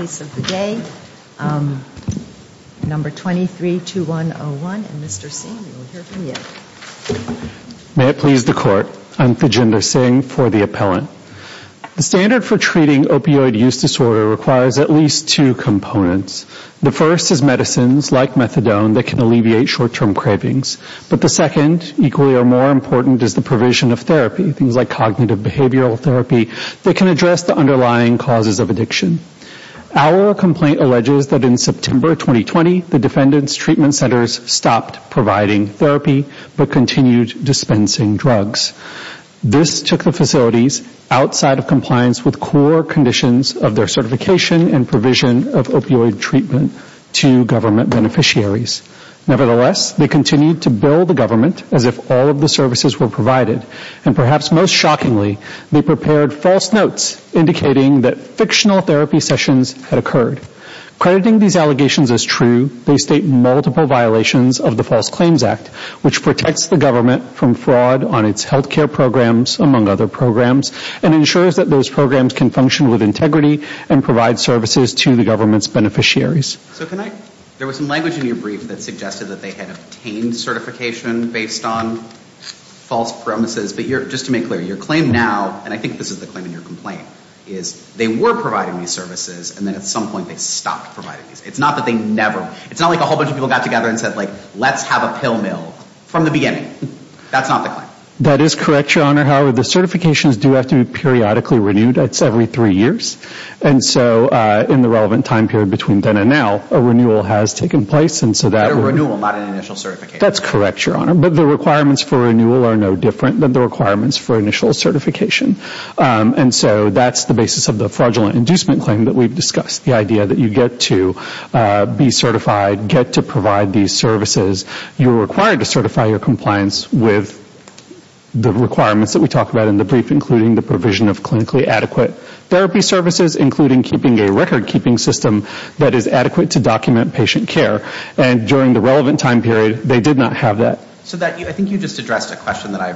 Number 232101, and Mr. Singh, we will hear from you. May it please the Court, I'm Vijendra Singh for the appellant. The standard for treating opioid use disorder requires at least two components. The first is medicines, like methadone, that can alleviate short-term cravings. But the second, equally or more important, is the provision of therapy, things like cognitive behavioral therapy, that can address the underlying causes of addiction. Our complaint alleges that in September 2020, the defendant's treatment centers stopped providing therapy but continued dispensing drugs. This took the facilities outside of compliance with core conditions of their certification and provision of opioid treatment to government beneficiaries. Nevertheless, they continued to bill the government as if all of the services were provided. And perhaps most shockingly, they prepared false notes indicating that fictional therapy sessions had occurred. Crediting these allegations as true, they state multiple violations of the False Claims Act, which protects the government from fraud on its healthcare programs, among other programs, and ensures that those programs can function with integrity and provide services to the government's beneficiaries. So can I, there was some language in your brief that suggested that they had obtained certification based on false premises, but just to make clear, your claim now, and I think this is the claim in your complaint, is they were providing these services, and then at some point they stopped providing these. It's not that they never, it's not like a whole bunch of people got together and said, like, let's have a pill mill from the beginning. That's not the claim. That is correct, Your Honor. However, the certifications do have to be periodically renewed. That's every three years. And so in the relevant time period between then and now, a renewal has taken place. A renewal, not an initial certification. That's correct, Your Honor. But the requirements for renewal are no different than the requirements for initial certification. And so that's the basis of the fraudulent inducement claim that we've discussed. The idea that you get to be certified, get to provide these services. You're required to certify your compliance with the requirements that we talked about in the brief, including the provision of clinically adequate therapy services, including keeping a recordkeeping system that is adequate to document patient care. And during the relevant time period, they did not have that. So that, I think you just addressed a question that I,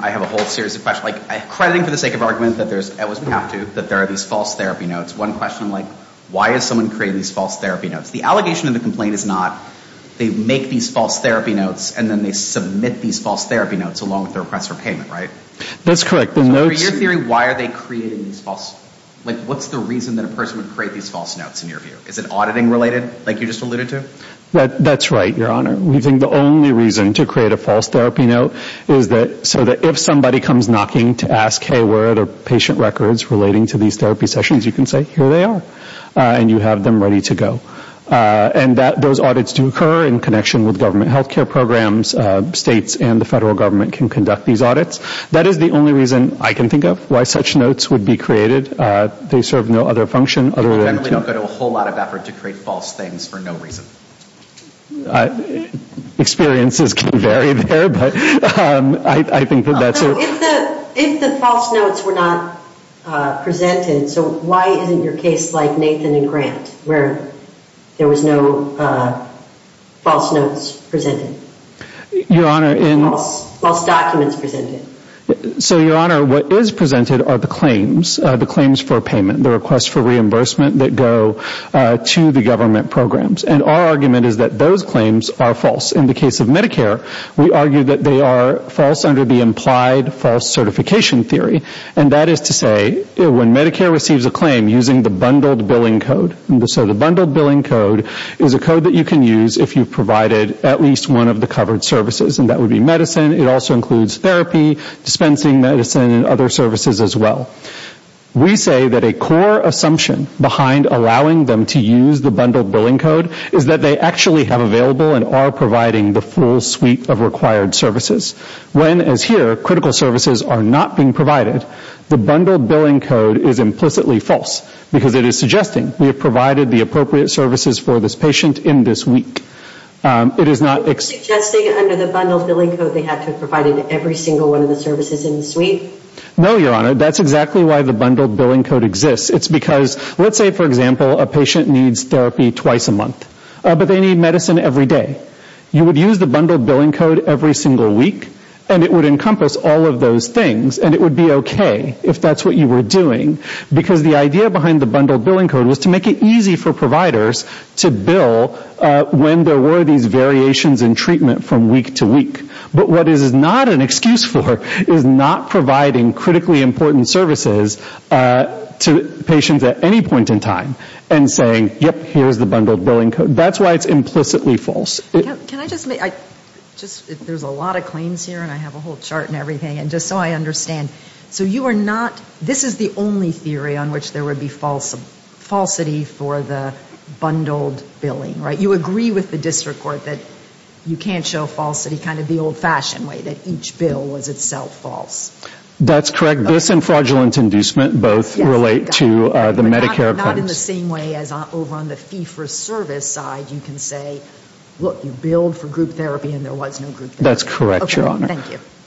I have a whole series of questions. Like, crediting for the sake of argument that there's, at least we have to, that there are these false therapy notes. One question, like, why is someone creating these false therapy notes? The allegation in the complaint is not they make these false therapy notes, and then they submit these false therapy notes, along with their repressor payment, right? Like, what's the reason that a person would create these false notes, in your view? Is it auditing related, like you just alluded to? That's right, Your Honor. We think the only reason to create a false therapy note is so that if somebody comes knocking to ask, hey, where are the patient records relating to these therapy sessions, you can say, here they are. And you have them ready to go. And those audits do occur in connection with government health care programs. States and the federal government can conduct these audits. That is the only reason I can think of why such notes would be created. They serve no other function other than to... If the false notes were not presented, so why isn't your case like Nathan and Grant, where there was no false notes presented? Your Honor, in... False documents presented. So, Your Honor, what is presented are the claims, the claims for payment, the requests for reimbursement that go to the government programs. And our argument is that those claims are false. In the case of Medicare, we argue that they are false under the implied false certification theory. And that is to say, when Medicare receives a claim using the bundled billing code. So the bundled billing code is a code that you can use if you've provided at least one of the covered services. And that would be medicine. It also includes therapy, dispensing medicine, and other services as well. We say that a core assumption behind allowing them to use the bundled billing code is that they actually have available and are providing the full suite of required services. When, as here, critical services are not being provided, the bundled billing code is implicitly false. Because it is suggesting we have provided the appropriate services for this patient in this week. It is not... Are you suggesting under the bundled billing code they have to have provided every single one of the services in the suite? No, Your Honor. That's exactly why the bundled billing code exists. It's because, let's say, for example, a patient needs therapy twice a month, but they need medicine every day. You would use the bundled billing code every single week, and it would encompass all of those things. And it would be okay if that's what you were doing. Because the idea behind the bundled billing code was to make it easy for providers to bill when there were these variations in treatment from week to week. But what it is not an excuse for is not providing critically important services to patients at any point in time and saying, yep, here's the bundled billing code. That's why it's implicitly false. Can I just make... There's a lot of claims here, and I have a whole chart and everything. And just so I understand, so you are not... This is the only theory on which there would be falsity for the bundled billing, right? You agree with the district court that you can't show falsity kind of the old-fashioned way, that each bill was itself false. That's correct. This and fraudulent inducement both relate to the Medicare appendix. Not in the same way as over on the fee-for-service side you can say, look, you billed for group therapy and there was no group therapy. That's correct, Your Honor.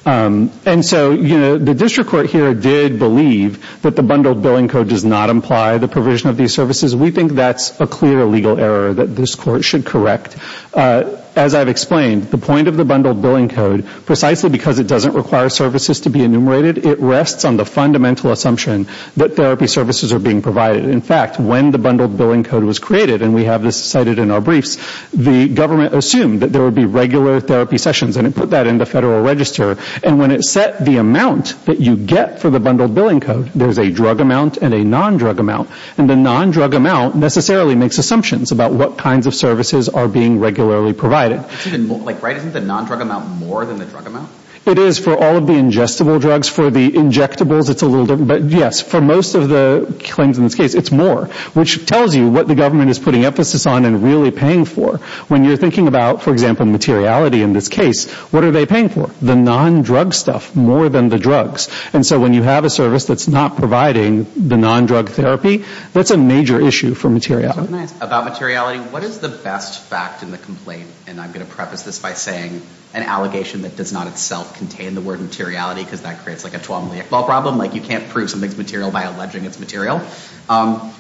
And so the district court here did believe that the bundled billing code does not imply the provision of these services. We think that's a clear legal error that this court should correct. As I've explained, the point of the bundled billing code, precisely because it doesn't require services to be enumerated, it rests on the fundamental assumption that therapy services are being provided. In fact, when the bundled billing code was created, and we have this cited in our briefs, the government assumed that there would be regular therapy sessions and it put that in the federal register. And when it set the amount that you get for the bundled billing code, there's a drug amount and a non-drug amount. And the non-drug amount necessarily makes assumptions about what kinds of services are being regularly provided. Isn't the non-drug amount more than the drug amount? It is for all of the ingestible drugs. For the injectables, it's a little different. But yes, for most of the claims in this case, it's more, which tells you what the government is putting emphasis on and really paying for. When you're thinking about, for example, materiality in this case, what are they paying for? The non-drug stuff more than the drugs. And so when you have a service that's not providing the non-drug therapy, that's a major issue for materiality. »» About materiality, what is the best fact in the complaint? And I'm going to preface this by saying an allegation that does not itself contain the word materiality, because that creates like a 12-milliac ball problem, like you can't prove something's material by alleging it's material.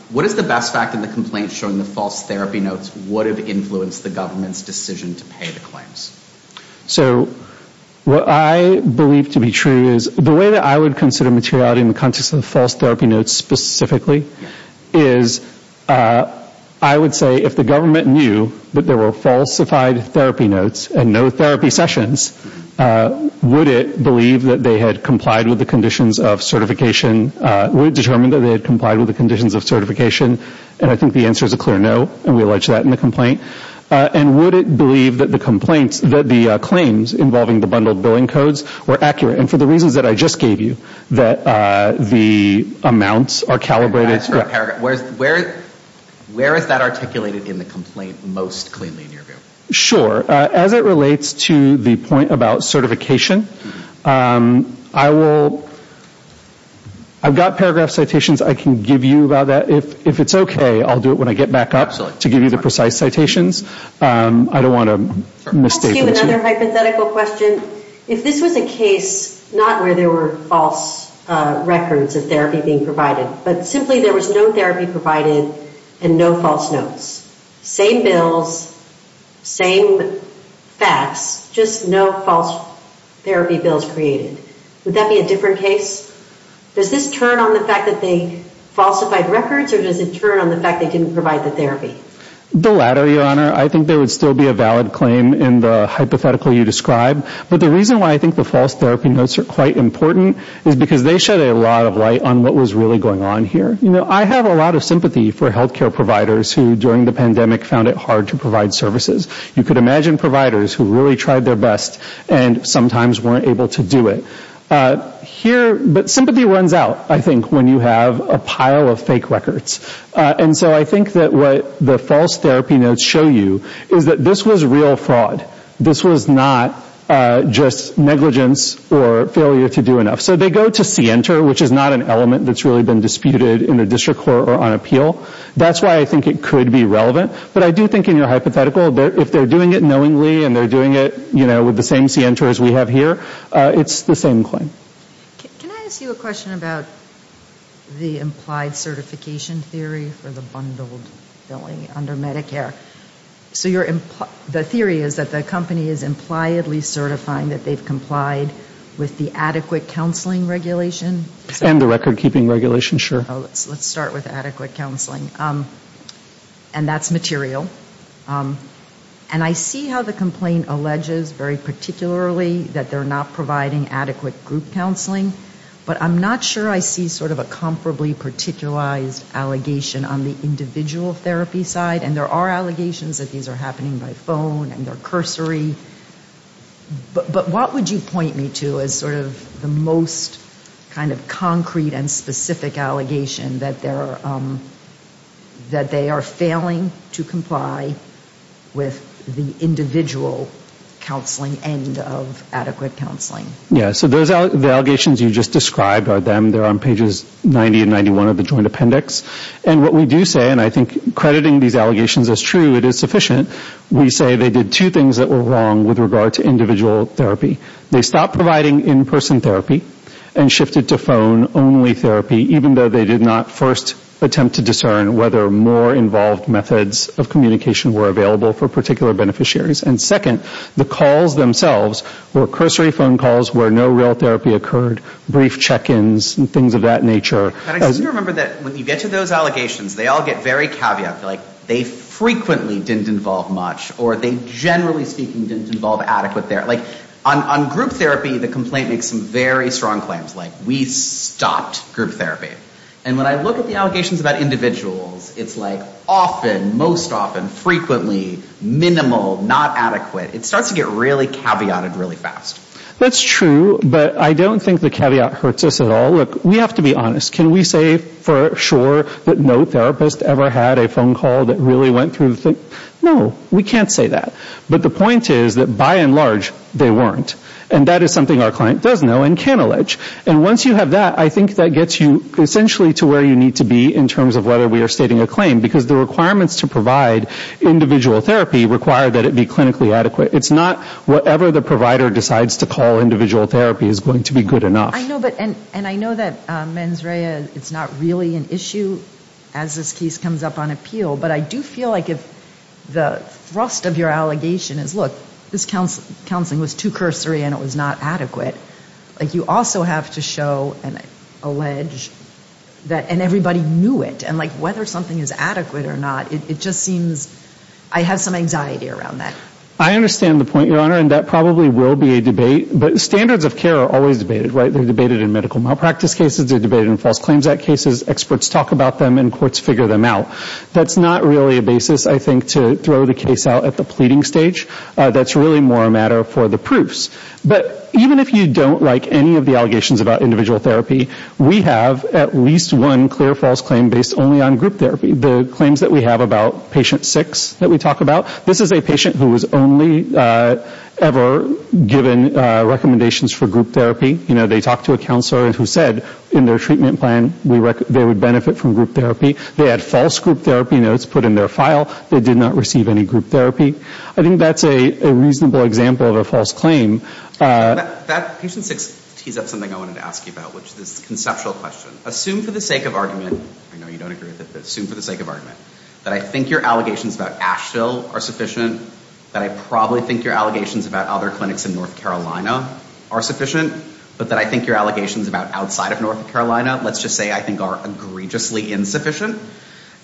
What is the best fact in the complaint showing the false therapy notes would have influenced the government's decision to pay the claims? »» So what I believe to be true is the way that I would consider materiality in the context of the false therapy notes specifically is I would say if the government knew that there were falsified therapy notes and no therapy sessions, would it believe that they had complied with the conditions of certification, would it determine that they had complied with the conditions of certification? And I think the answer is a clear no, and we allege that in the complaint. And would it believe that the claims involving the bundled billing codes were accurate? And for the reasons that I just gave you, that the amounts are calibrated. »» Where is that articulated in the complaint most cleanly in your view? »» Sure. As it relates to the point about certification, I will, I've got paragraph citations I can give you about that. If it's okay, I'll do it when I get back up to give you the precise citations. I don't want to misstate. »» If this was a case not where there were false records of therapy being provided, but simply there was no therapy provided and no false notes. Same bills, same facts, just no false therapy bills created. Would that be a different case? Does this turn on the fact that they falsified records or does it turn on the fact that they didn't provide the therapy? »» The latter, Your Honor. I think there would still be a valid claim in the hypothetical you described. But the reason why I think the false therapy notes are quite important is because they shed a lot of light on what was really going on here. You know, I have a lot of sympathy for healthcare providers who during the pandemic found it hard to provide services. You could imagine providers who really tried their best and sometimes weren't able to do it. Here, but sympathy runs out, I think, when you have a pile of fake records. And so I think that what the false therapy notes show you is that this was real fraud. This was not just negligence or failure to do enough. So they go to see enter, which is not an element that's really been disputed in the district court or on appeal. That's why I think it could be relevant. But I do think in your hypothetical, if they're doing it knowingly and they're doing it with the same center as we have here, it's the same claim. »» Can I ask you a question about the implied certification theory for the bundled billing under Medicare? So the theory is that the company is impliedly certifying that they've complied with the adequate counseling regulation? »» And the record keeping regulation, sure. »» Let's start with adequate counseling. And that's material. And I see how the complaint alleges very particularly that they're not providing adequate group counseling. But I'm not sure I see sort of a comparably particularized allegation on the individual therapy side. And there are allegations that these are happening by phone and they're cursory. But what would you point me to as sort of the most kind of concrete and specific allegation that they are failing to comply with the individual counseling end of adequate counseling? »» Yeah. So the allegations you just described are them. They're on pages 90 and 91 of the joint appendix. And what we do say, and I think crediting these allegations as true, it is sufficient. We say they did two things that were wrong with regard to individual therapy. They stopped providing in-person therapy and shifted to phone-only therapy, even though they did not first attempt to discern whether more involved methods of communication were available for particular beneficiaries. And second, the calls themselves were cursory phone calls where no real therapy occurred, brief check-ins and things of that nature. »» And I seem to remember that when you get to those allegations, they all get very caveat. They frequently didn't involve much or they generally speaking didn't involve adequate therapy. On group therapy, the complaint makes some very strong claims like we stopped group therapy. And when I look at the allegations about individuals, it's like often, most often, frequently, minimal, not adequate. It starts to get really caveated really fast. »» That's true. But I don't think the caveat hurts us at all. »» I don't think there was a single phone call that really went through the thing. No, we can't say that. But the point is that by and large, they weren't. And that is something our client does know and can allege. And once you have that, I think that gets you essentially to where you need to be in terms of whether we are stating a claim. Because the requirements to provide individual therapy require that it be clinically adequate. It's not whatever the provider decides to call individual therapy is going to be good enough. »» And I know that mens rea, it's not really an issue as this case comes up on appeal. But I do feel like if the thrust of your allegation is, look, this counseling was too cursory and it was not adequate. You also have to show and allege and everybody knew it. And whether something is adequate or not, it just seems I have some anxiety around that. »» I understand the point, Your Honor. And that probably will be a debate. But standards of care are always debated. They're debated in medical malpractice cases. They're debated in False Claims Act cases. Experts talk about them and courts figure them out. That's not really a basis, I think, to throw the case out at the pleading stage. That's really more a matter for the proofs. But even if you don't like any of the allegations about individual therapy, we have at least one clear false claim based only on group therapy. The claims that we have about patient six that we talk about. This is a patient who was only ever given recommendations for group therapy. They talked to a counselor who said in their treatment plan they would benefit from group therapy. They had false group therapy notes put in their file. They did not receive any group therapy. I think that's a reasonable example of a false claim. »» Patient six tees up something I wanted to ask you about, which is a conceptual question. Assume for the sake of argument that I think your allegations about Asheville are sufficient, that I probably think your allegations about other clinics in North Carolina are sufficient, but that I think your allegations about outside of North Carolina, let's just say, are egregiously insufficient.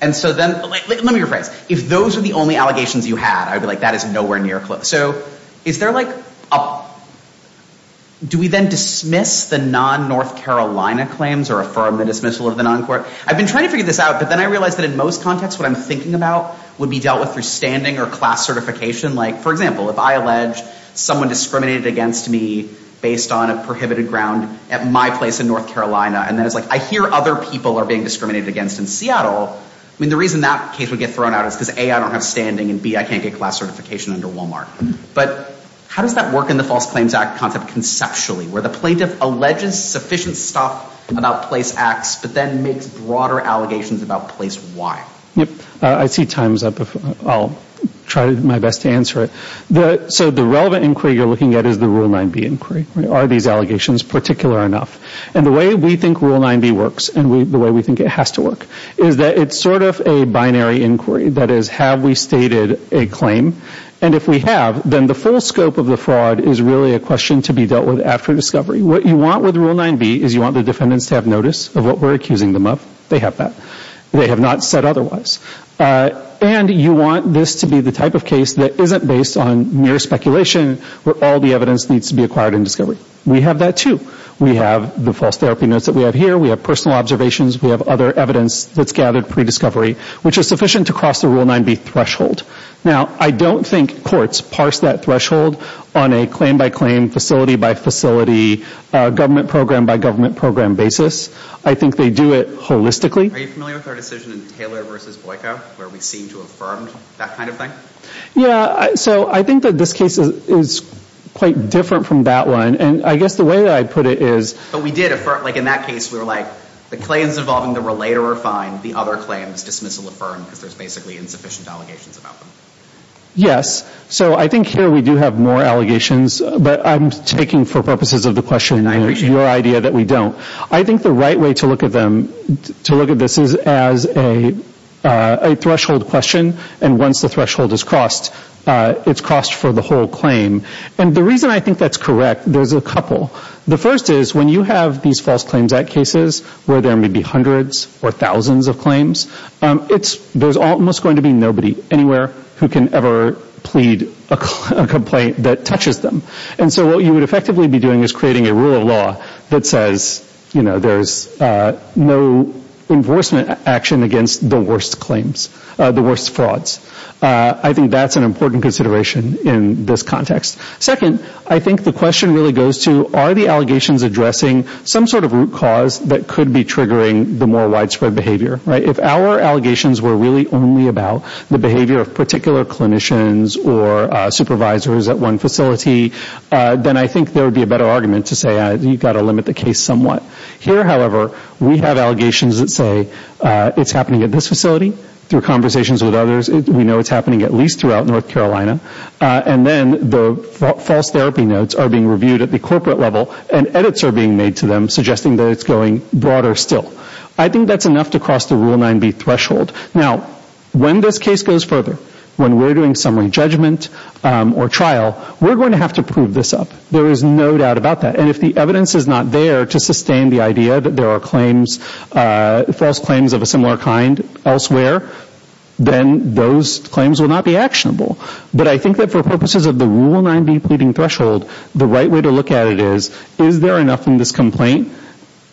Let me rephrase. If those are the only allegations you had, I would be like, that is nowhere near close. So is there like a... Do we then dismiss the non-North Carolina claims or affirm the dismissal of the non-court? I've been trying to figure this out, but then I realized that in most contexts what I'm thinking about would be dealt with through standing or class certification. Like, for example, if I allege someone discriminated against me based on a prohibited ground at my place in North Carolina, and then it's like I hear other people are being discriminated against in Seattle. I mean, the reason that case would get thrown out is because A, I don't have standing, and B, I can't get class certification under Wal-Mart. But how does that work in the False Claims Act concept conceptually, where the plaintiff alleges sufficient stuff about place X, but then makes broader allegations about place Y? Yep. I see time's up. I'll try my best to answer it. So the relevant inquiry you're looking at is the Rule 9B inquiry. Are these allegations particular enough? And the way we think Rule 9B works and the way we think it has to work is that it's sort of a binary inquiry. That is, have we stated a claim? And if we have, then the full scope of the fraud is really a question to be dealt with after discovery. What you want with Rule 9B is you want the defendants to have notice of what we're accusing them of. They have that. They have not said otherwise. And you want this to be the type of case that isn't based on mere speculation where all the evidence needs to be acquired in discovery. We have that, too. We have the false therapy notes that we have here. We have personal observations. We have other evidence that's gathered pre-discovery, which is sufficient to cross the Rule 9B threshold. Now, I don't think courts parse that threshold on a claim-by-claim, facility-by-facility, government-program-by-government-program basis. I think they do it holistically. Are you familiar with our decision in Taylor v. Boiko where we seem to have affirmed that kind of thing? Yeah. So I think that this case is quite different from that one. And I guess the way that I put it is— But we did affirm—like in that case, we were like, the claims involving the relator are fine. The other claims dismissal affirmed because there's basically insufficient allegations about them. Yes. So I think here we do have more allegations, but I'm taking for purposes of the question your idea that we don't. I think the right way to look at them, to look at this, is as a threshold question. And once the threshold is crossed, it's crossed for the whole claim. And the reason I think that's correct, there's a couple. The first is when you have these False Claims Act cases where there may be hundreds or thousands of claims, there's almost going to be nobody anywhere who can ever plead a complaint that touches them. And so what you would effectively be doing is creating a rule of law that says, you know, there's no enforcement action against the worst claims, the worst frauds. I think that's an important consideration in this context. Second, I think the question really goes to, are the allegations addressing some sort of root cause that could be triggering the more widespread behavior? If our allegations were really only about the behavior of particular clinicians or supervisors at one facility, then I think there would be a better argument to say you've got to limit the case somewhat. Here, however, we have allegations that say it's happening at this facility through conversations with others. We know it's happening at least throughout North Carolina. And then the false therapy notes are being reviewed at the corporate level and edits are being made to them suggesting that it's going broader still. I think that's enough to cross the Rule 9b threshold. Now, when this case goes further, when we're doing summary judgment or trial, we're going to have to prove this up. There is no doubt about that. And if the evidence is not there to sustain the idea that there are claims, false claims of a similar kind elsewhere, then those claims will not be actionable. But I think that for purposes of the Rule 9b pleading threshold, the right way to look at it is, is there enough in this complaint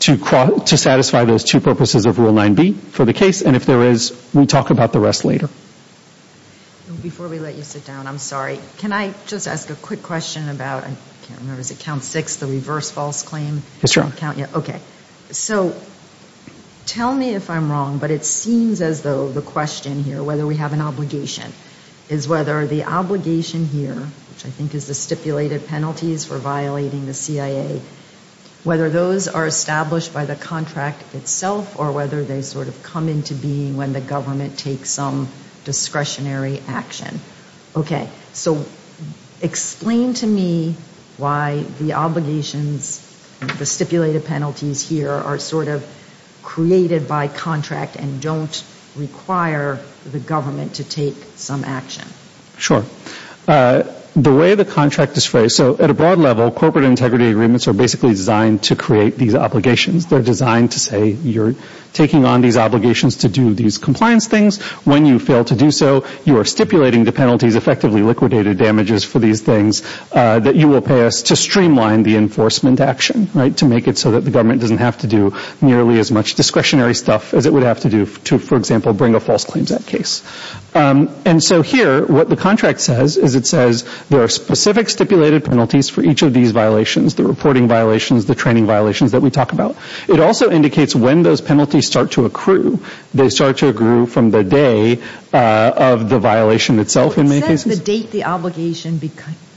to satisfy those two purposes of Rule 9b for the case? And if there is, we talk about the rest later. Before we let you sit down, I'm sorry, can I just ask a quick question about, I can't remember, is it count six, the reverse false claim? Okay. So tell me if I'm wrong, but it seems as though the question here, whether we have an obligation, is whether the obligation here, which I think is the stipulated penalties for violating the CIA, whether those are established by the contract itself or whether they sort of come into being when the government takes some discretionary action. Okay. So explain to me why the obligations, the stipulated penalties here are sort of created by contract and don't require the government to take some action. Sure. The way the contract is phrased, so at a broad level, corporate integrity agreements are basically designed to create these obligations. They're designed to say you're taking on these obligations to do these compliance things. When you fail to do so, you are stipulating the penalties, effectively liquidated damages for these things, that you will pay us to streamline the enforcement action, right, to make it so that the government doesn't have to do nearly as much discretionary stuff as it would have to do to, for example, bring a false claims act case. And so here, what the contract says is it says there are specific stipulated penalties for each of these violations, the reporting violations, the training violations that we talk about. It also indicates when those penalties start to accrue. They start to accrue from the day of the violation itself in many cases. It says the date the obligation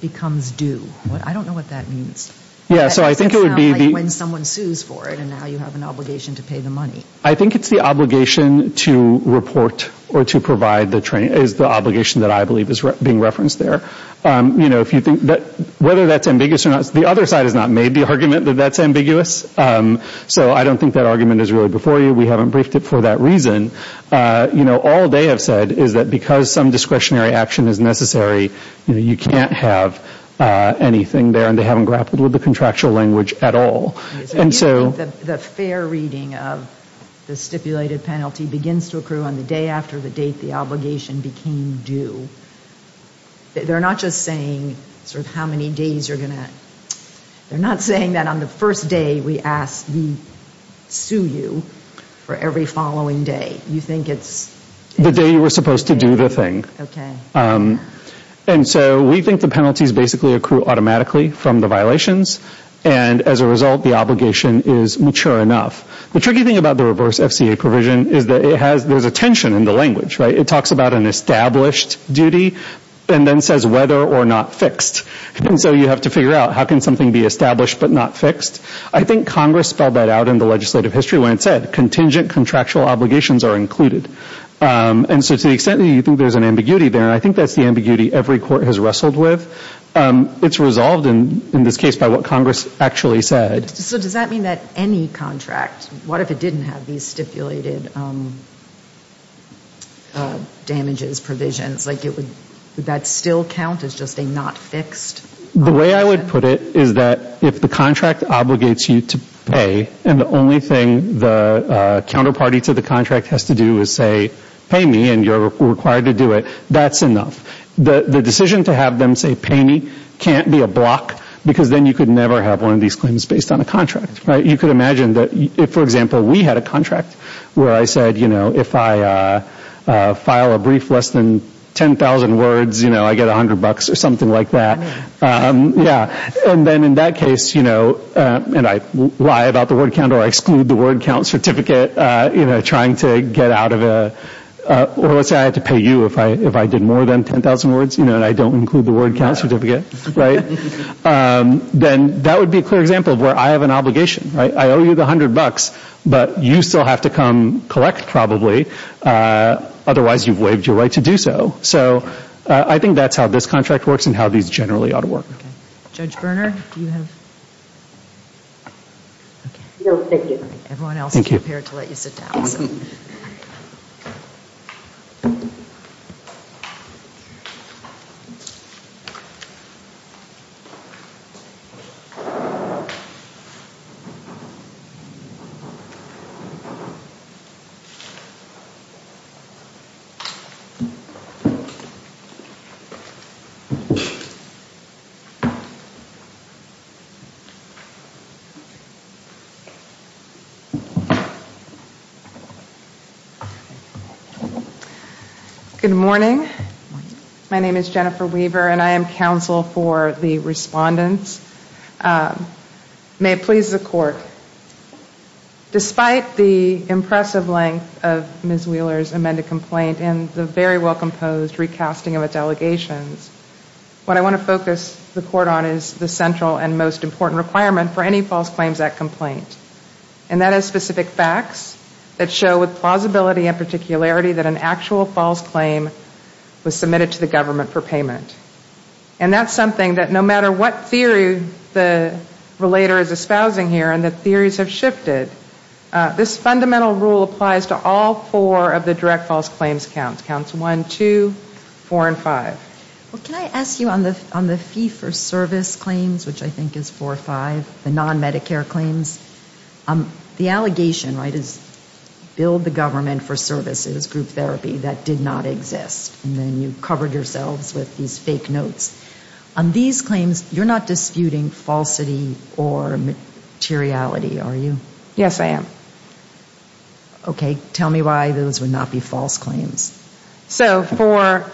becomes due. I don't know what that means. That sounds like when someone sues for it and now you have an obligation to pay the money. I think it's the obligation to report or to provide the training, is the obligation that I believe is being referenced there. Whether that's ambiguous or not, the other side has not made the argument that that's ambiguous. So I don't think that argument is really before you. We haven't briefed it for that reason. All they have said is that because some discretionary action is necessary, you can't have anything there and they haven't grappled with the contractual language at all. The fair reading of the stipulated penalty begins to accrue on the day after the date the obligation became due. They're not just saying sort of how many days you're going to, they're not saying that on the first day we ask we sue you for every following day. You think it's the day you were supposed to do the thing. And so we think the penalties basically accrue automatically from the violations and as a result the obligation is mature enough. The tricky thing about the reverse FCA provision is that there's a tension in the language. It talks about an established duty and then says whether or not fixed. And so you have to figure out how can something be established but not fixed. I think Congress spelled that out in the legislative history when it said contingent contractual obligations are included. And so to the extent that you think there's an ambiguity there, I think that's the ambiguity every court has wrestled with. It's resolved in this case by what Congress actually said. So does that mean that any contract, what if it didn't have these stipulated damages, provisions, like would that still count as just a not fixed? The way I would put it is that if the contract obligates you to pay and the only thing the counterparty to the contract has to do is say pay me and you're required to do it, that's enough. The decision to have them say pay me can't be a block because then you could never have one of these claims based on a contract. You could imagine that if, for example, we had a contract where I said if I file a brief less than 10,000 words, I get 100 bucks or something like that. And then in that case, and I lie about the word count or exclude the word count certificate trying to get out of a, or let's say I had to pay you if I did more than 10,000 words and I don't include the word count certificate, then that would be a clear example of where I have an obligation. I owe you the 100 bucks, but you still have to come collect probably. Otherwise you've waived your right to do so. So I think that's how this contract works and how these generally ought to work. Okay, Judge Berner, do you have? No, thank you. Everyone else is prepared to let you sit down. Good morning. My name is Jennifer Weaver and I am counsel for the respondents. May it please the court. Despite the impressive length of Ms. Wheeler's amended complaint and the very well composed recasting of its allegations, what I want to focus the court on is the central and most important requirement for any False Claims Act complaint. And that is specific facts that show with plausibility and particularity that an actual false claim was submitted to the government for payment. And that's something that no matter what theory the relator is espousing here and that theories have shifted, this fundamental rule applies to all four of the direct false claims counts, counts one, two, four, and five. Well, can I ask you on the fee for service claims, which I think is four or five, the non-Medicare claims, the allegation, right, is build the government for services, group therapy, that did not exist. And then you covered yourselves with these fake notes. On these claims, you're not disputing falsity or materiality, are you? Yes, I am. Okay. Tell me why those would not be false claims. So for,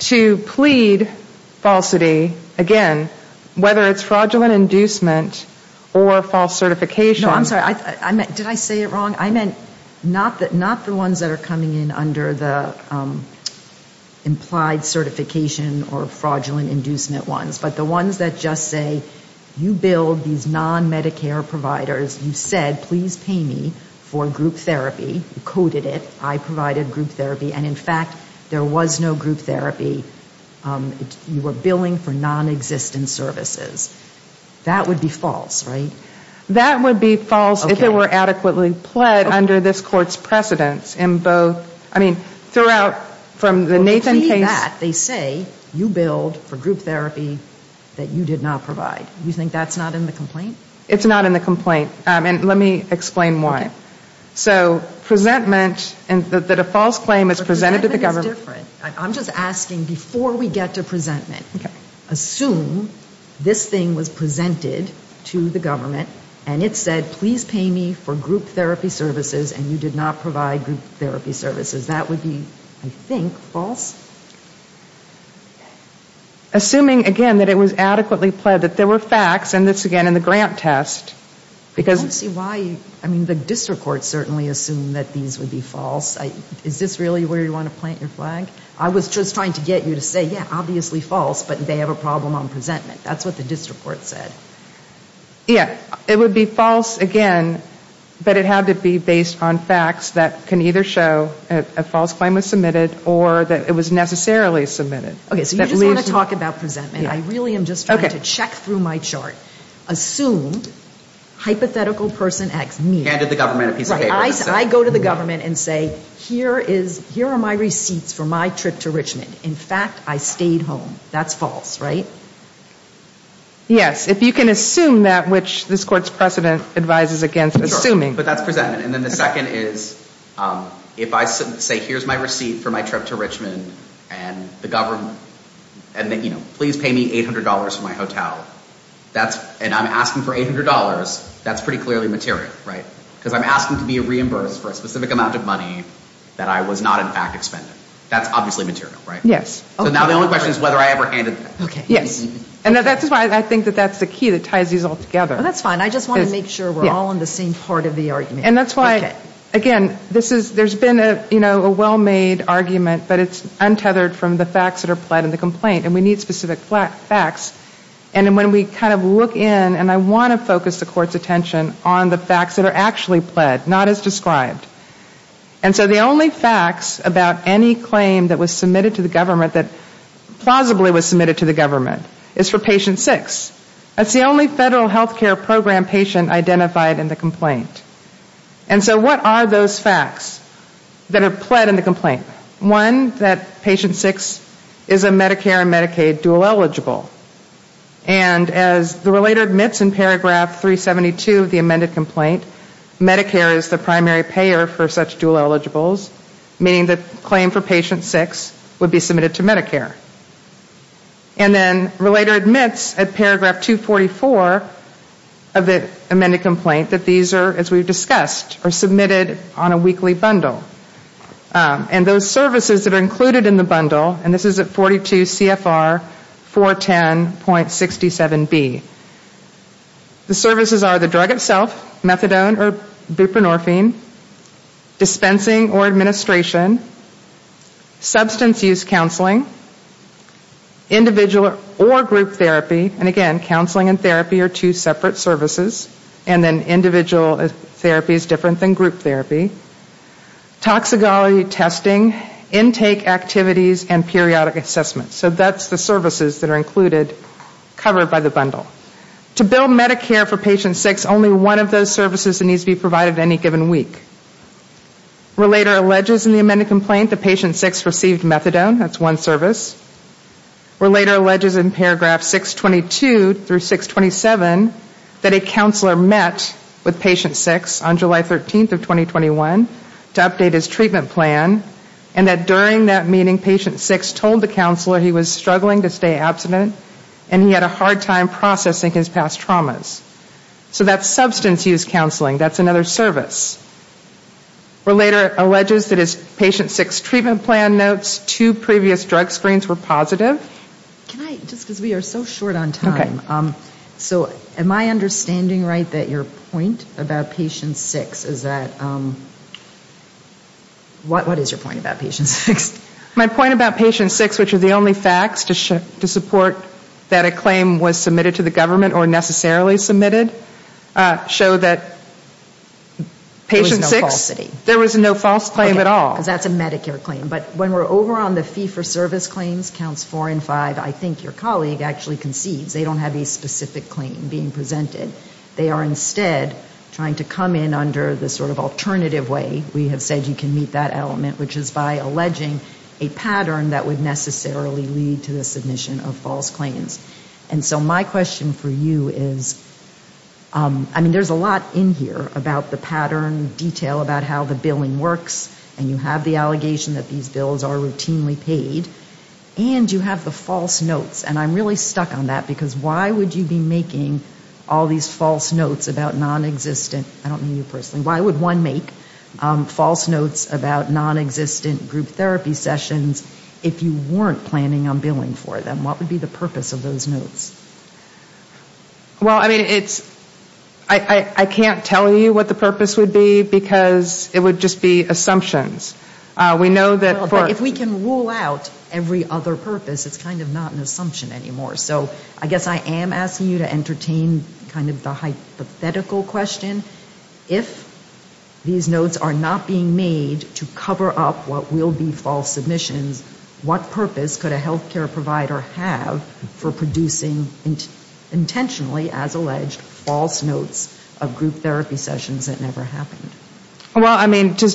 to plead falsity, again, whether it's fraudulent inducement or false certification. No, I'm sorry. Did I say it wrong? I meant not the ones that are coming in under the implied certification or fraudulent inducement ones, but the ones that just say you build these non-Medicare providers. You said please pay me for group therapy. You coded it. I provided group therapy. And in fact, there was no group therapy. You were billing for nonexistent services. That would be false, right? That would be false if it were adequately pled under this court's precedence in both, I mean, throughout from the Nathan case. Well, to plead that, they say you billed for group therapy that you did not provide. You think that's not in the complaint? It's not in the complaint. And let me explain why. So presentment, that a false claim is presented to the government. I'm just asking, before we get to presentment, assume this thing was presented to the government and it said please pay me for group therapy services and you did not provide group therapy services. That would be, I think, false? Assuming, again, that it was adequately pled, that there were facts, and this, again, in the grant test. I don't see why you, I mean, the district court certainly assumed that these would be false. Is this really where you want to plant your flag? I was just trying to get you to say, yeah, obviously false, but they have a problem on presentment. That's what the district court said. Yeah. It would be false, again, but it had to be based on facts that can either show a false claim was submitted or that it was necessarily submitted. Okay. So you just want to talk about presentment. I really am just trying to check through my chart. Assume hypothetical person asks me. Handed the government a piece of paper. I go to the government and say here are my receipts for my trip to Richmond. In fact, I stayed home. That's false, right? Yes. If you can assume that, which this Court's precedent advises against assuming. But that's presentment. And then the second is if I say here's my receipt for my trip to Richmond and the government, and, you know, please pay me $800 for my hotel, and I'm asking for $800, that's pretty clearly material, right? Because I'm asking to be reimbursed for a specific amount of money that I was not in fact expended. That's obviously material, right? Yes. And that's why I think that that's the key that ties these all together. That's fine. I just want to make sure we're all on the same part of the argument. And that's why, again, there's been a well-made argument, but it's untethered from the facts that are pled in the complaint. And we need specific facts. And when we kind of look in, and I want to focus the Court's attention on the facts that are actually pled, not as described. And so the only facts about any claim that was submitted to the government that plausibly was submitted to the government is for patient six. That's the only federal healthcare program patient identified in the complaint. And so what are those facts that are pled in the complaint? One, that patient six is a Medicare and Medicaid dual eligible. And as the relator admits in paragraph 372 of the amended complaint, Medicare is the primary payer for such dual eligibles, meaning the claim for patient six would be submitted to Medicare. And then relator admits at paragraph 244 of the amended complaint that these are, as we've discussed, are submitted on a weekly bundle. And those services that are included in the bundle, and this is at 42 CFR 410.67B. The services are the drug itself, methadone or buprenorphine, dispensing or administration, substance use counseling, individual or group therapy, and again, counseling and therapy are two separate services. And then individual therapy is different than group therapy. Toxicology testing, intake activities, and periodic assessments. So that's the services that are included, covered by the bundle. To bill Medicare for patient six, only one of those services needs to be provided any given week. Relator alleges in the amended complaint that patient six received methadone, that's one service. Relator alleges in paragraph 622 through 627 that a counselor met with patient six on July 13th of 2021 to update his treatment plan. And that during that meeting, patient six told the counselor he was struggling to stay abstinent and he had a hard time processing his past traumas. So that's substance use counseling, that's another service. Relator alleges that his patient six treatment plan notes, two previous drug screens were positive. Can I, just because we are so short on time, so am I understanding right that your point about patient six is that, what is your point about patient six? My point about patient six, which is the only facts to support that a claim was submitted to the government or necessarily submitted to the government. Show that patient six, there was no false claim at all. Because that's a Medicare claim, but when we're over on the fee for service claims, counts four and five, I think your colleague actually concedes, they don't have a specific claim being presented. They are instead trying to come in under the sort of alternative way, we have said you can meet that element, which is by alleging a pattern that would necessarily lead to the submission of false claims. And so my question for you is, I mean, there's a lot in here about the pattern, detail about how the billing works, and you have the allegation that these bills are routinely paid, and you have the false notes. And I'm really stuck on that, because why would you be making all these false notes about nonexistent, I don't mean you personally, why would one make false notes about nonexistent group therapy sessions if you weren't planning on billing for them? What would be the purpose of those notes? Well, I mean, it's, I can't tell you what the purpose would be, because it would just be assumptions. We know that for... If we can rule out every other purpose, it's kind of not an assumption anymore. So I guess I am asking you to entertain kind of the hypothetical question. If these notes are not being made to cover up what will be false submissions, what purpose could a health care provider have for producing intentionally, as alleged, false notes of group therapy sessions that never happened? Well, I mean, to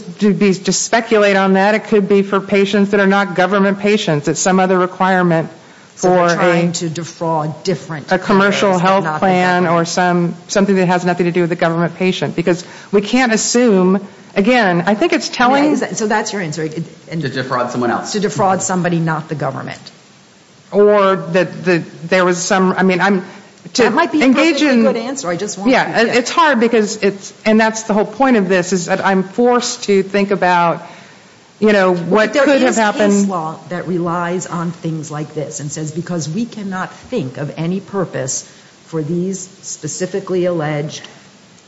speculate on that, it could be for patients that are not government patients. It's some other requirement for a... Plan or something that has nothing to do with a government patient. Because we can't assume, again, I think it's telling... So that's your answer. To defraud someone else. To defraud somebody not the government. Or that there was some, I mean, to engage in... That might be a perfectly good answer. I just want you to... Yeah, it's hard, because it's, and that's the whole point of this, is that I'm forced to think about, you know, what could have happened... There is case law that relies on things like this and says, because we cannot think of any purpose for these specifically alleged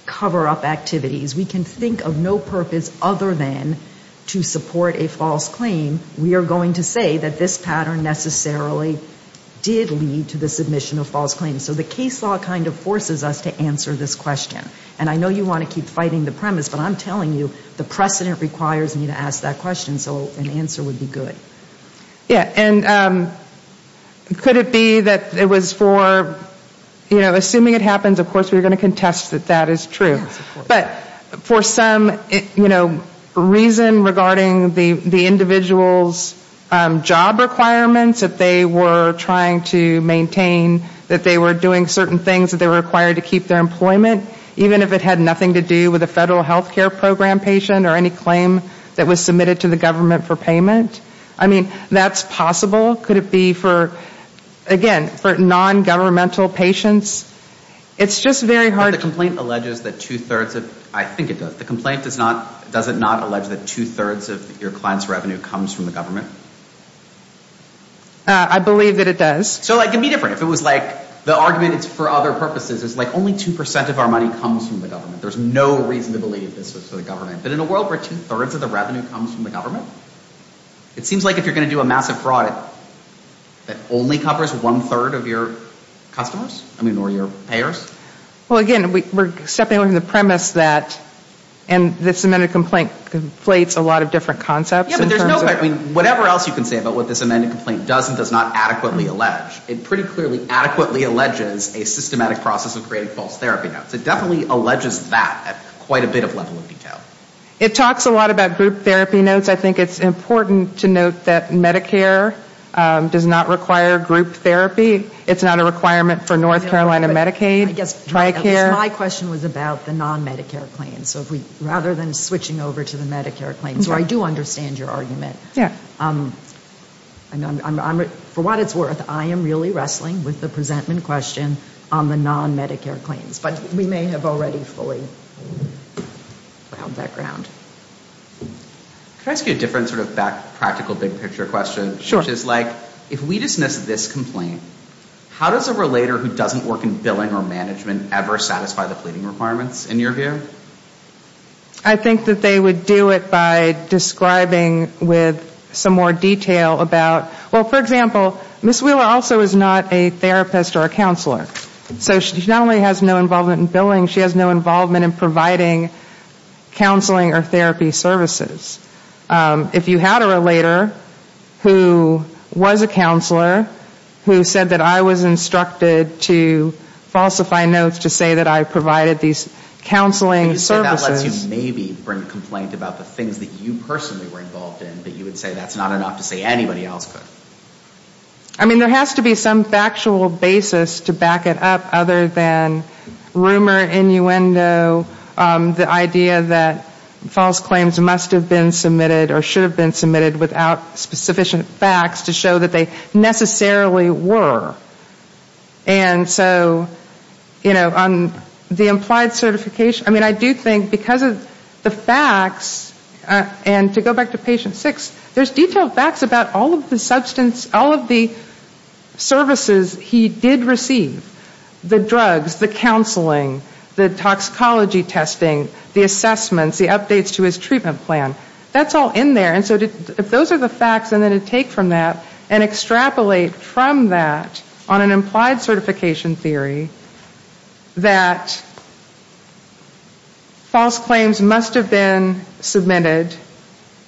cover-up activities, we can think of no purpose other than to support a false claim. We are going to say that this pattern necessarily did lead to the submission of false claims. So the case law kind of forces us to answer this question. And I know you want to keep fighting the premise, but I'm telling you, the precedent requires me to ask that question. So an answer would be good. Yeah, and could it be that it was for, you know, assuming it happens, of course we're going to contest that that is true. But for some, you know, reason regarding the individual's job requirements that they were trying to maintain, that they were doing certain things that they were required to keep their employment, even if it had nothing to do with a federal health care program patient or any claim that was submitted to the government for payment? I mean, that's possible. Could it be for, again, for non-governmental patients? It's just very hard to... But the complaint alleges that two-thirds of, I think it does, the complaint does not, does it not allege that two-thirds of your client's revenue comes from the government? I believe that it does. So it can be different. If it was like the argument is for other purposes, it's like only 2% of our money comes from the government. There's no reason to believe this is for the government. But in a world where two-thirds of the revenue comes from the government, it seems like if you're going to do a massive fraud that only covers one-third of your customers, I mean, or your payers? Well, again, we're stepping away from the premise that, and this amended complaint conflates a lot of different concepts in terms of... Yeah, but there's no... I mean, whatever else you can say about what this amended complaint does and does not adequately allege, it pretty clearly adequately alleges a systematic process of creating false therapy notes. It definitely alleges that at quite a bit of level of detail. It talks a lot about group therapy notes. I think it's important to note that Medicare does not require group therapy. It's not a requirement for North Carolina Medicaid. I guess my question was about the non-Medicare claims, rather than switching over to the Medicare claims. So I do understand your argument. For what it's worth, I am really wrestling with the presentment question on the non-Medicare claims. But we may have already fully found that ground. Can I ask you a different sort of practical big picture question? Sure. Which is like, if we dismiss this complaint, how does a relator who doesn't work in billing or management ever satisfy the pleading requirements, in your view? I think that they would do it by describing with some more detail about, well, for example, Ms. Wheeler also is not a therapist or a counselor. So she not only has no involvement in billing, she has no involvement in providing counseling or therapy services. If you had a relator who was a counselor, who said that I was instructed to falsify notes to say that I provided these counseling services, that lets you maybe bring a complaint about the things that you personally were involved in, but you would say that's not enough to say anybody else could. I mean, there has to be some factual basis to back it up, other than rumor, innuendo, the idea that false claims must have been submitted or should have been submitted without sufficient facts to show that they necessarily were. And so, you know, on the implied certification, I mean, I do think because of the facts, and to go back to patient six, there's detailed facts about all of the substance, all of the services he did receive. The drugs, the counseling, the toxicology testing, the assessments, the updates to his treatment plan. That's all in there. But I do think on an implied certification theory, that false claims must have been submitted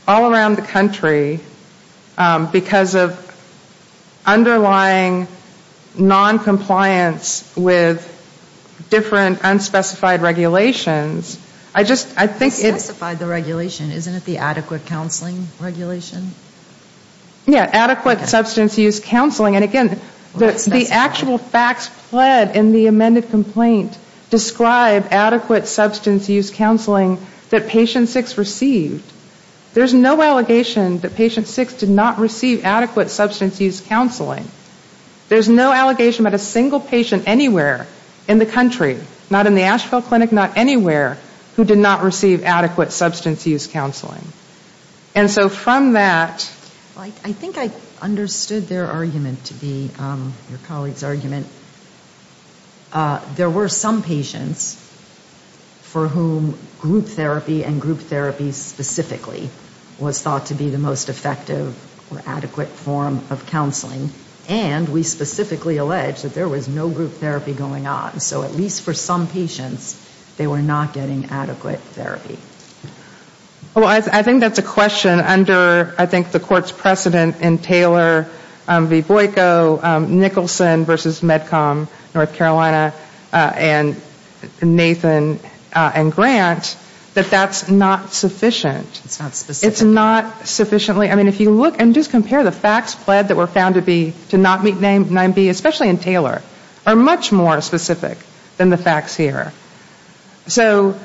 all around the country because of underlying noncompliance with different unspecified regulations. I just, I think it's the regulation, isn't it the adequate counseling regulation? Yeah, adequate substance use counseling. And again, the actual facts pled in the amended complaint describe adequate substance use counseling that patient six received. There's no allegation that patient six did not receive adequate substance use counseling. There's no allegation about a single patient anywhere in the country, not in the Asheville Clinic, not anywhere, who did not receive adequate substance use counseling. And so from that ‑‑ I think I understood their argument to be, your colleague's argument. There were some patients for whom group therapy and group therapy specifically was thought to be the most effective or adequate form of counseling. And we specifically alleged that there was no group therapy going on. So at least for some patients, they were not getting adequate therapy. Well, I think that's a question under, I think, the court's precedent in Taylor v. Boyko, Nicholson versus MedCom, North Carolina, and Nathan and Grant, that that's not sufficient. It's not specific. Unfortunately, I mean, if you look and just compare the facts pled that were found to be, to not meet 9B, especially in Taylor, are much more specific than the facts here. So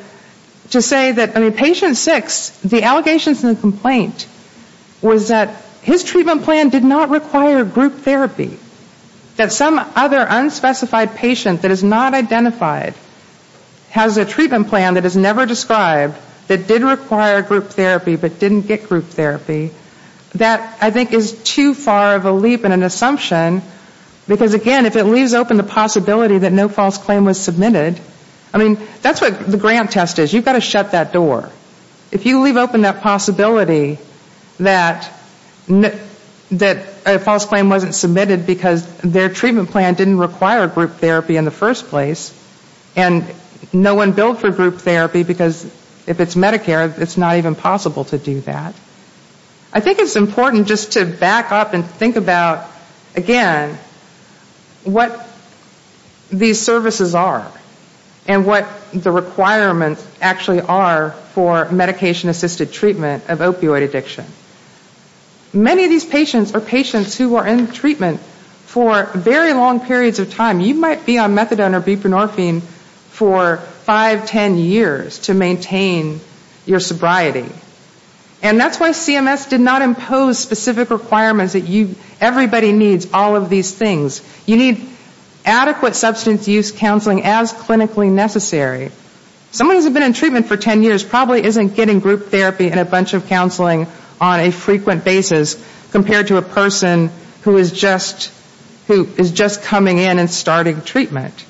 to say that, I mean, patient six, the allegations in the complaint was that his treatment plan did not require group therapy. That some other unspecified patient that is not identified has a treatment plan that is never described that did require group therapy but didn't get group therapy. That, I think, is too far of a leap and an assumption. Because, again, if it leaves open the possibility that no false claim was submitted, I mean, that's what the Grant test is. You've got to shut that door. If you leave open that possibility that a false claim wasn't submitted because their treatment plan didn't require group therapy in the first place, and no one billed for group therapy because if it's Medicare, it's not even possible to do that. I think it's important just to back up and think about, again, what these services are and what the requirements actually are for medication-assisted treatment of opioid addiction. Many of these patients are patients who are in treatment for very long periods of time. You might be on methadone or buprenorphine for five, ten years to maintain your sobriety. And that's why CMS did not impose specific requirements that everybody needs all of these things. You need adequate substance use counseling as clinically necessary. Someone who's been in treatment for ten years probably isn't getting group therapy and a bunch of counseling on a frequent basis compared to a person who is just coming in and starting treatment.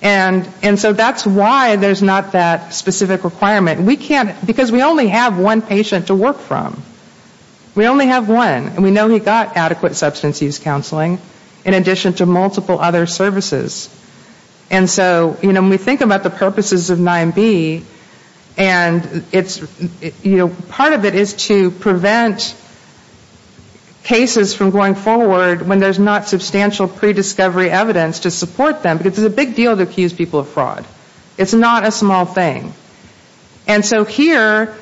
And so that's why there's not that specific requirement. Because we only have one patient to work from. We only have one. And we know he got adequate substance use counseling in addition to multiple other services. And so when we think about the purposes of 9B, part of it is to prevent cases from going forward when there's not substantial prediscovery evidence to support them. It's a big deal to accuse people of fraud. It's not a small thing. And so here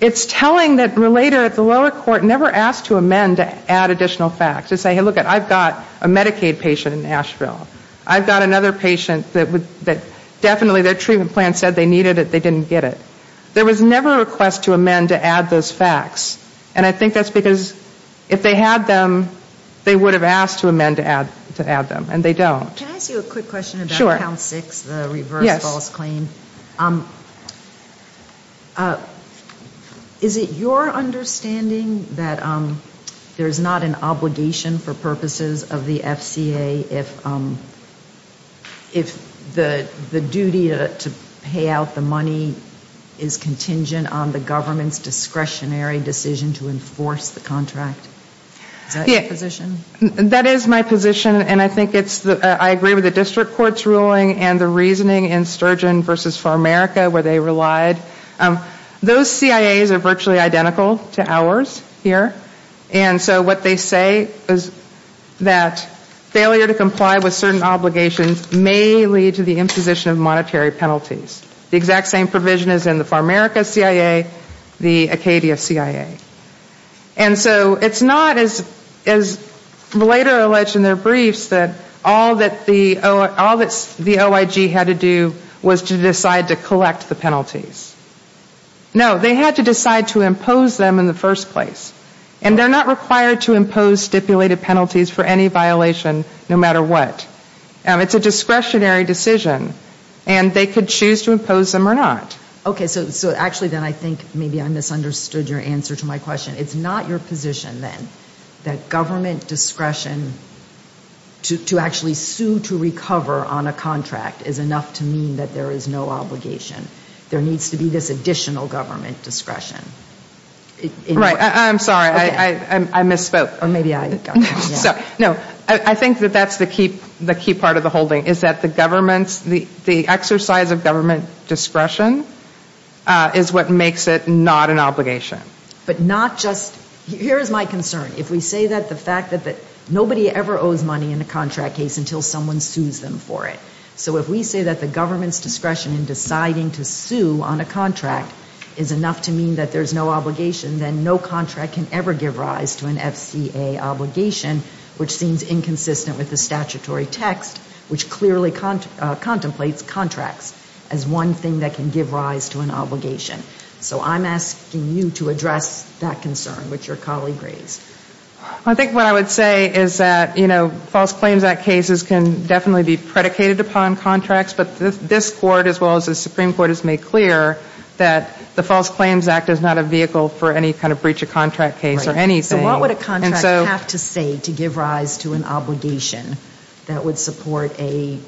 it's telling that relator at the lower court never asked to amend to add additional facts to say, hey, look, I've got a Medicaid patient in Nashville. I've got another patient that definitely their treatment plan said they needed it, they didn't get it. There was never a request to amend to add those facts. And I think that's because if they had them, they would have asked to amend to add them. And they don't. Can I ask you a quick question about count six, the reverse false claim? Is it your understanding that there's not an obligation for purposes of the FCA if the duty to pay out the money is contingent on the government's discretionary decision? Is that your position? That is my position, and I agree with the district court's ruling and the reasoning in Sturgeon versus Farmerica where they relied. Those CIAs are virtually identical to ours here. And so what they say is that failure to comply with certain obligations may lead to the imposition of monetary penalties. The exact same provision is in the Farmerica CIA, the Acadia CIA. And so it's not as later alleged in their briefs that all that the OIG had to do was to decide to collect the penalties. No, they had to decide to impose them in the first place. And they're not required to impose stipulated penalties for any violation, no matter what. It's a discretionary decision, and they could choose to impose them or not. Okay, so actually then I think maybe I misunderstood your answer to my question. It's not your position, then, that government discretion to actually sue to recover on a contract is enough to mean that there is no obligation? There needs to be this additional government discretion. Right. I'm sorry. I misspoke. No, I think that that's the key part of the holding, is that the government's, the exercise of government discretion is what makes it not an obligation. But not just, here is my concern, if we say that the fact that nobody ever owes money in a contract case until someone sues them for it. So if we say that the government's discretion in deciding to sue on a contract is enough to mean that there's no obligation, then no contract can ever give rise to an FCA obligation, which seems inconsistent with the statutory text, which clearly contemplates contracts as one thing that can give rise to an obligation. So I'm asking you to address that concern, which your colleague raised. I think what I would say is that, you know, False Claims Act cases can definitely be predicated upon contracts, but this Court, as well as the Supreme Court, has made clear that the False Claims Act is not a vehicle for any kind of breach of contract case or anything. Right. So what would a contract have to say to give rise to an obligation that would support a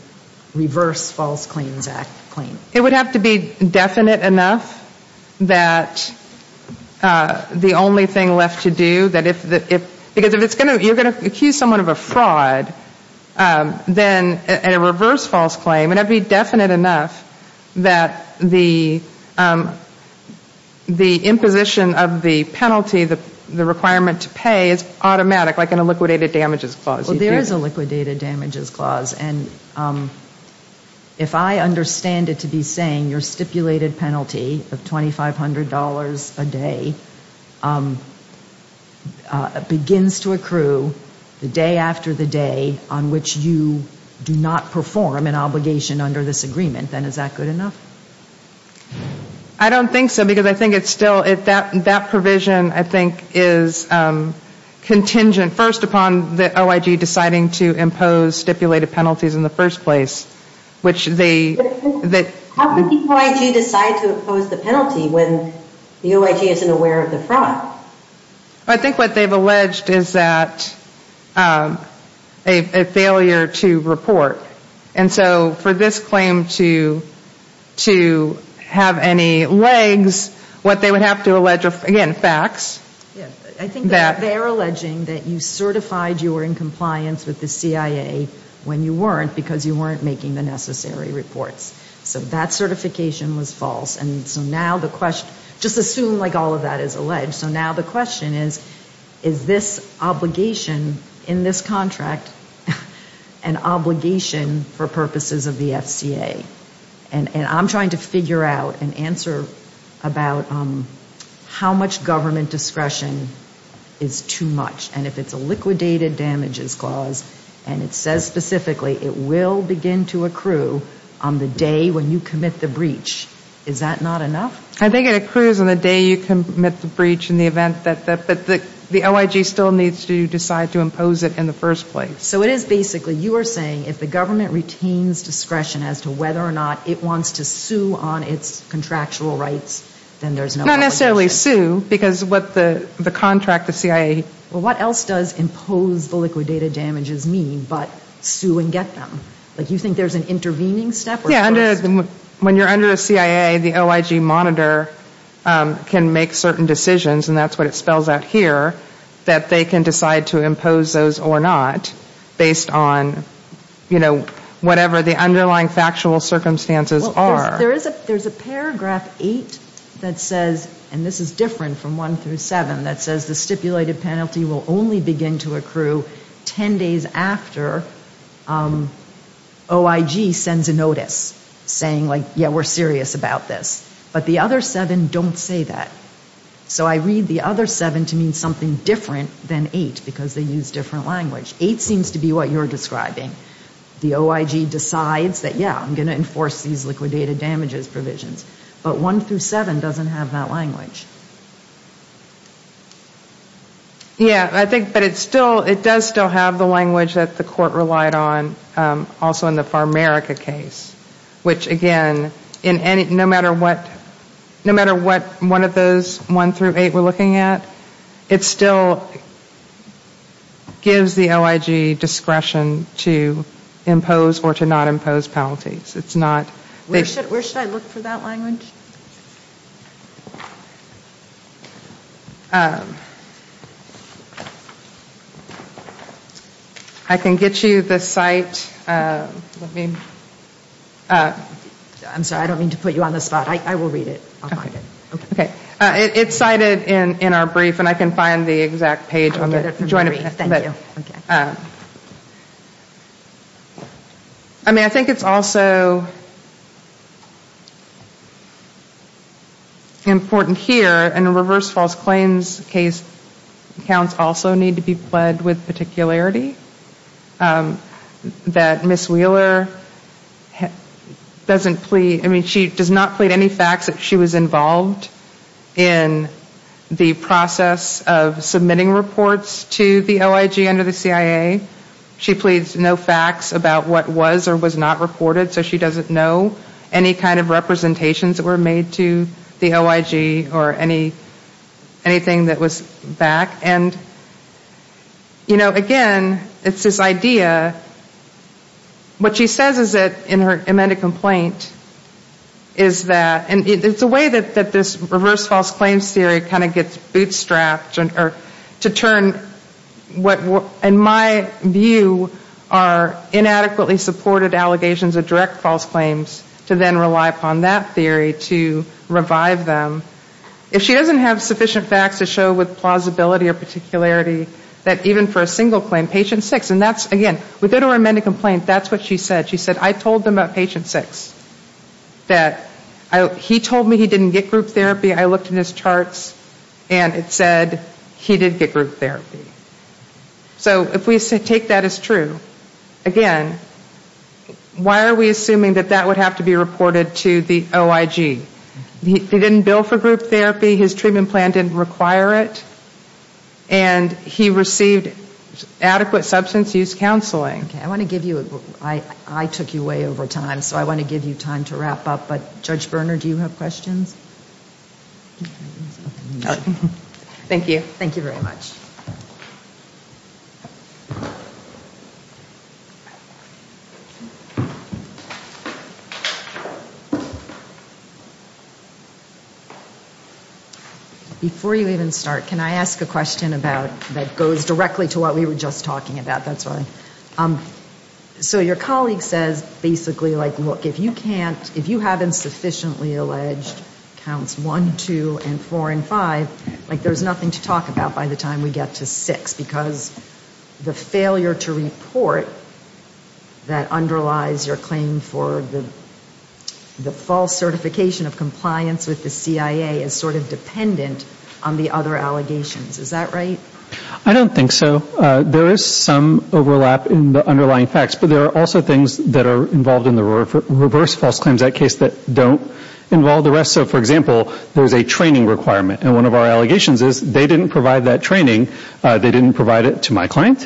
reverse False Claims Act claim? It would have to be definite enough that the only thing left to do, that if, because if it's going to, you're going to accuse someone of a fraud, then a reverse False Claim, and it would be definite enough that the imposition of a false claim of the penalty, the requirement to pay, is automatic, like in a liquidated damages clause. Well, there is a liquidated damages clause. And if I understand it to be saying your stipulated penalty of $2,500 a day begins to accrue the day after the day on which you do not perform an obligation under this agreement, then is that good enough? I don't think so, because I think it's still, that provision, I think, is contingent first upon the OIG deciding to impose stipulated penalties in the first place, which they How can the OIG decide to impose the penalty when the OIG isn't aware of the fraud? I think what they've alleged is that a failure to report. And so for this claim to have any legs, what they would have to allege are, again, facts. I think they're alleging that you certified you were in compliance with the CIA when you weren't, because you weren't making the necessary reports. So that certification was false. And so now the question, just assume like all of that is alleged, so now the question is, is this obligation in this contract an obligation for purposes of the FCA? And I'm trying to figure out an answer about how much government discretion is too much. And if it's a liquidated damages clause and it says specifically it will begin to accrue on the day when you commit the breach, is that not enough? I think it accrues on the day you commit the breach in the event that the OIG still needs to decide to impose it in the first place. So it is basically, you are saying if the government retains discretion as to whether or not it wants to sue on its contractual rights, then there's no obligation. Not necessarily sue, because what the contract, the CIA Well, what else does impose the liquidated damages mean but sue and get them? Like you think there's an intervening step? When you're under a CIA, the OIG monitor can make certain decisions, and that's what it spells out here, that they can decide to impose those or not based on, you know, whatever the underlying factual circumstances are. There's a paragraph eight that says, and this is different from one through seven, that says the stipulated penalty will only begin to accrue 10 days after OIG sends a notice saying, like, yeah, we're serious about this. But the other seven don't say that. So I read the other seven to mean something different than eight, because they use different language. Eight seems to be what you're describing. The OIG decides that, yeah, I'm going to enforce these liquidated damages provisions. But one through seven doesn't have that language. Yeah, I think, but it's still, it does still have the language that the court relied on also in the Farmerica case, which, again, in any, no matter what, no matter what one of those one through eight we're looking at, it still gives the OIG discretion to impose or to not impose penalties. It's not. Where should I look for that language? I can get you the site. I'm sorry. I don't mean to put you on the spot. I will read it. It's cited in our brief, and I can find the exact page. I mean, I think it's also important here, and reverse false claims case counts also need to be pled with particularity, that Ms. Wheeler doesn't plead. I mean, she does not plead any facts that she was involved in the process of submitting reports to the OIG under the CIA. She pleads no facts about what was or was not reported, so she doesn't know any kind of representations that were made to the OIG or anything that was back. And, you know, again, it's this idea. What she says is that in her amended complaint is that, and it's a way that this reverse false claims theory kind of gets bootstrapped to turn what, in my view, are inadequately supported allegations of direct false claims to then rely upon that theory to revive them. If she doesn't have sufficient facts to show with plausibility or particularity that even for a single claim, patient six, and that's, again, within her amended complaint, that's what she said. She said, I told them about patient six, that he told me he didn't get group therapy. I looked in his charts, and it said he did get group therapy. So if we take that as true, again, why are we assuming that that would have to be reported to the OIG? He didn't bill for group therapy, his treatment plan didn't require it, and he received adequate substance use counseling. I took you way over time, so I want to give you time to wrap up, but Judge Berner, do you have questions? Thank you. Before you even start, can I ask a question about, that goes directly to what we were just talking about? So your colleague says, basically, like, look, if you can't, if you haven't sufficiently alleged counts one, two, and four and five, like, there's nothing to talk about by the time we get to six, because the failure to report that underlies your claim for the false certification of compliance with the CIA as sort of dependent on the other allegations. Is that right? I don't think so. There is some overlap in the underlying facts, but there are also things that are involved in the reverse false claims, that case that don't involve the rest. So, for example, there's a training requirement, and one of our allegations is they didn't provide that training, they didn't provide it to my client,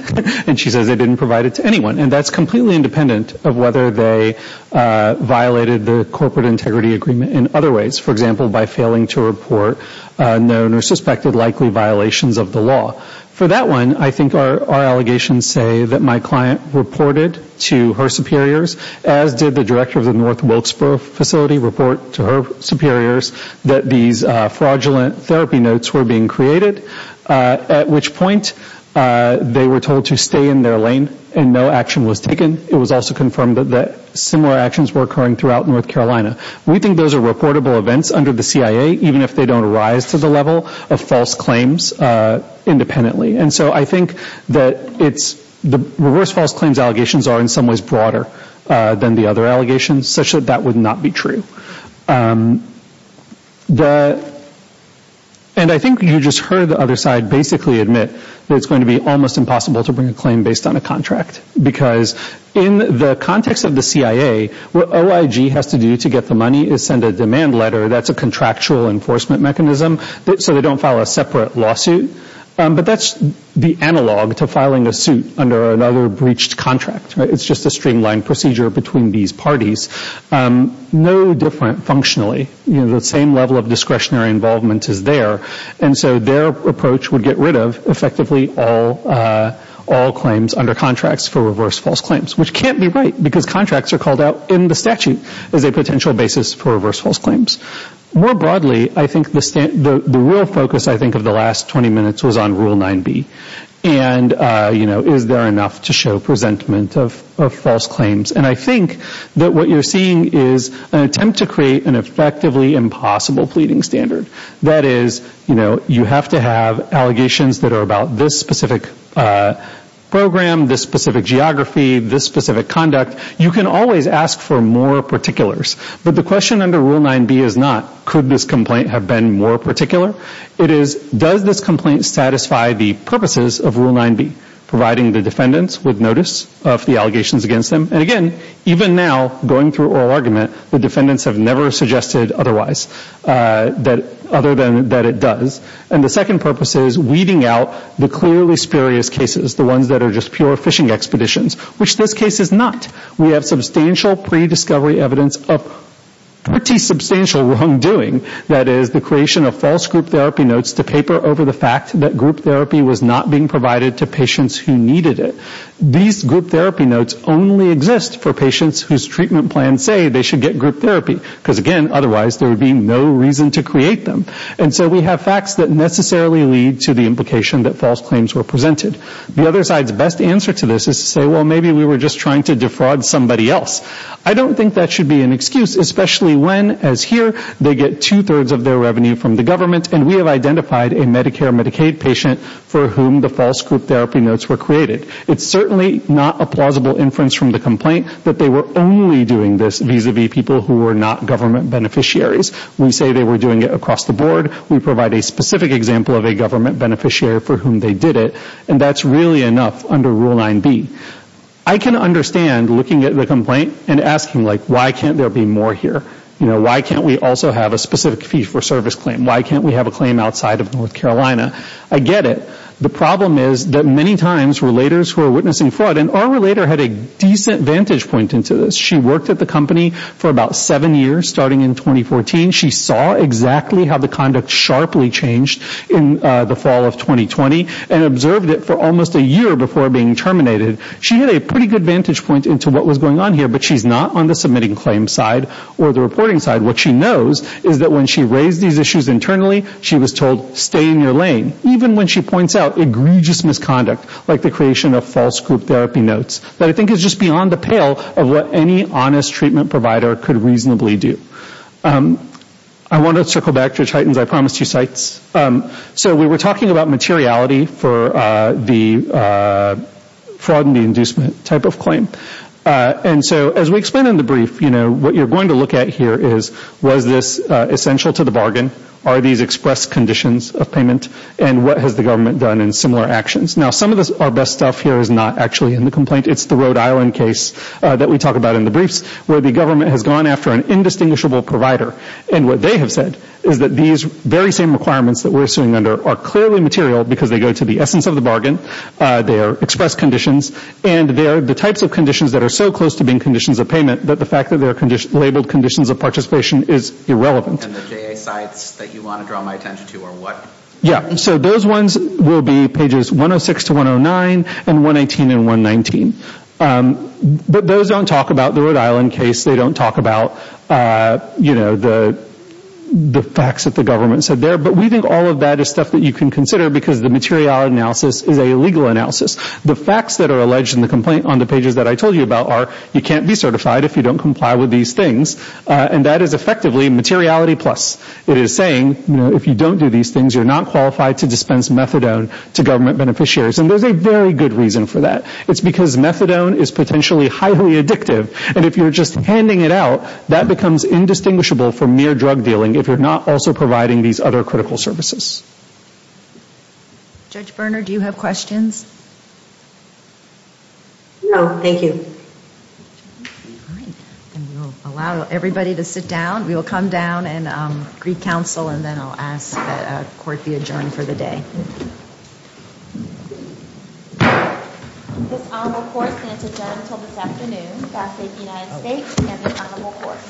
and she says they didn't provide it to anyone. And that's completely independent of whether they violated the corporate integrity agreement in other ways. For example, by failing to report known or suspected likely violations of the law. For that one, I think our allegations say that my client reported to her superiors, as did the director of the North Wilkesboro facility, report to her superiors that these fraudulent therapy notes were being created, at which point they were told to stay in their lane and no action was taken. It was also confirmed that similar actions were occurring throughout North Carolina. We think those are reportable events under the CIA, even if they don't rise to the level of false claims independently. And so I think that it's the reverse false claims allegations are in some ways broader than the other allegations, such that that would not be true. And I think you just heard the other side basically admit that it's going to be almost impossible to bring a claim based on a contract, because in the context of the CIA, what OIG has to do to get the money is send a demand letter. That's a contractual enforcement mechanism, so they don't file a separate lawsuit. But that's the analog to filing a suit under another breached contract. It's just a streamlined procedure between these parties, no different functionally. The same level of discretionary involvement is there. And so their approach would get rid of effectively all claims under contracts for reverse false claims, which can't be right, because contracts are called out in the statute as a potential basis for reverse false claims. More broadly, I think the real focus I think of the last 20 minutes was on Rule 9B. And, you know, is there enough to show presentment of false claims? And I think that what you're seeing is an attempt to create an effectively impossible pleading standard. That is, you know, you have to have allegations that are about this specific program, this specific geography, this specific conduct. You can always ask for more particulars. But the question under Rule 9B is not, could this complaint have been more particular? It is, does this complaint satisfy the purposes of Rule 9B, providing the defendants with notice of the allegations against them? And again, even now, going through oral argument, the defendants have never suggested otherwise, other than that it does. And the second purpose is weeding out the clearly spurious cases, the ones that are just pure fishing expeditions, which this case is not. We have substantial pre-discovery evidence of pretty substantial wrongdoing. That is, the creation of false group therapy notes to paper over the fact that group therapy was not being provided to patients who needed it. These group therapy notes only exist for patients whose treatment plans say they should get group therapy. Because, again, otherwise there would be no reason to create them. And so we have facts that necessarily lead to the implication that false claims were presented. The other side's best answer to this is to say, well, maybe we were just trying to defraud somebody else. I don't think that should be an excuse, especially when, as here, they get two-thirds of their revenue from the government, and we have identified a Medicare Medicaid patient for whom the false group therapy notes were created. It's certainly not a plausible inference from the complaint that they were only doing this vis-a-vis people who were not government beneficiaries. We say they were doing it across the board. That's really enough under Rule 9B. I can understand looking at the complaint and asking, like, why can't there be more here? Why can't we also have a specific fee for service claim? Why can't we have a claim outside of North Carolina? I get it. The problem is that many times relators who are witnessing fraud, and our relator had a decent vantage point into this. She worked at the company for about seven years, starting in 2014. She saw exactly how the conduct sharply changed in the fall of 2020 and observed it for almost a year before being terminated. She had a pretty good vantage point into what was going on here, but she's not on the submitting claim side or the reporting side. What she knows is that when she raised these issues internally, she was told, stay in your lane. Even when she points out egregious misconduct, like the creation of false group therapy notes, that I think is just beyond the pale of what any honest treatment provider could reasonably do. I want to circle back to Titans I Promised You sites. We were talking about materiality for the fraud and the inducement type of claim. As we explain in the brief, what you're going to look at here is, was this essential to the bargain? Are these expressed conditions of payment, and what has the government done in similar actions? Some of our best stuff here is not actually in the complaint. It's the Rhode Island case that we talk about in the briefs, where the government has gone after an indistinguishable provider. What they have said is that these very same requirements that we're sitting under are clearly material, because they go to the essence of the bargain, they are expressed conditions, and they are the types of conditions that are so close to being conditions of payment that the fact that they are labeled conditions of participation is irrelevant. Those ones will be pages 106 to 109, and 118 and 119. But those don't talk about the Rhode Island case. They don't talk about the facts that the government said there. But we think all of that is stuff that you can consider, because the material analysis is a legal analysis. The facts that are alleged in the complaint on the pages that I told you about are, you can't be certified if you don't comply with these things, and that is effectively materiality plus. It is saying, you know, if you don't do these things, you're not qualified to dispense methadone to government beneficiaries. And there's a very good reason for that. It's because methadone is potentially highly addictive. And if you're just handing it out, that becomes indistinguishable from mere drug dealing if you're not also providing these other critical services. Judge Berner, do you have questions? No, thank you. We will allow everybody to sit down. We will come down and greet counsel, and then I'll ask that court be adjourned for the day. This honorable court stands adjourned until this afternoon. God save the United States and this honorable court.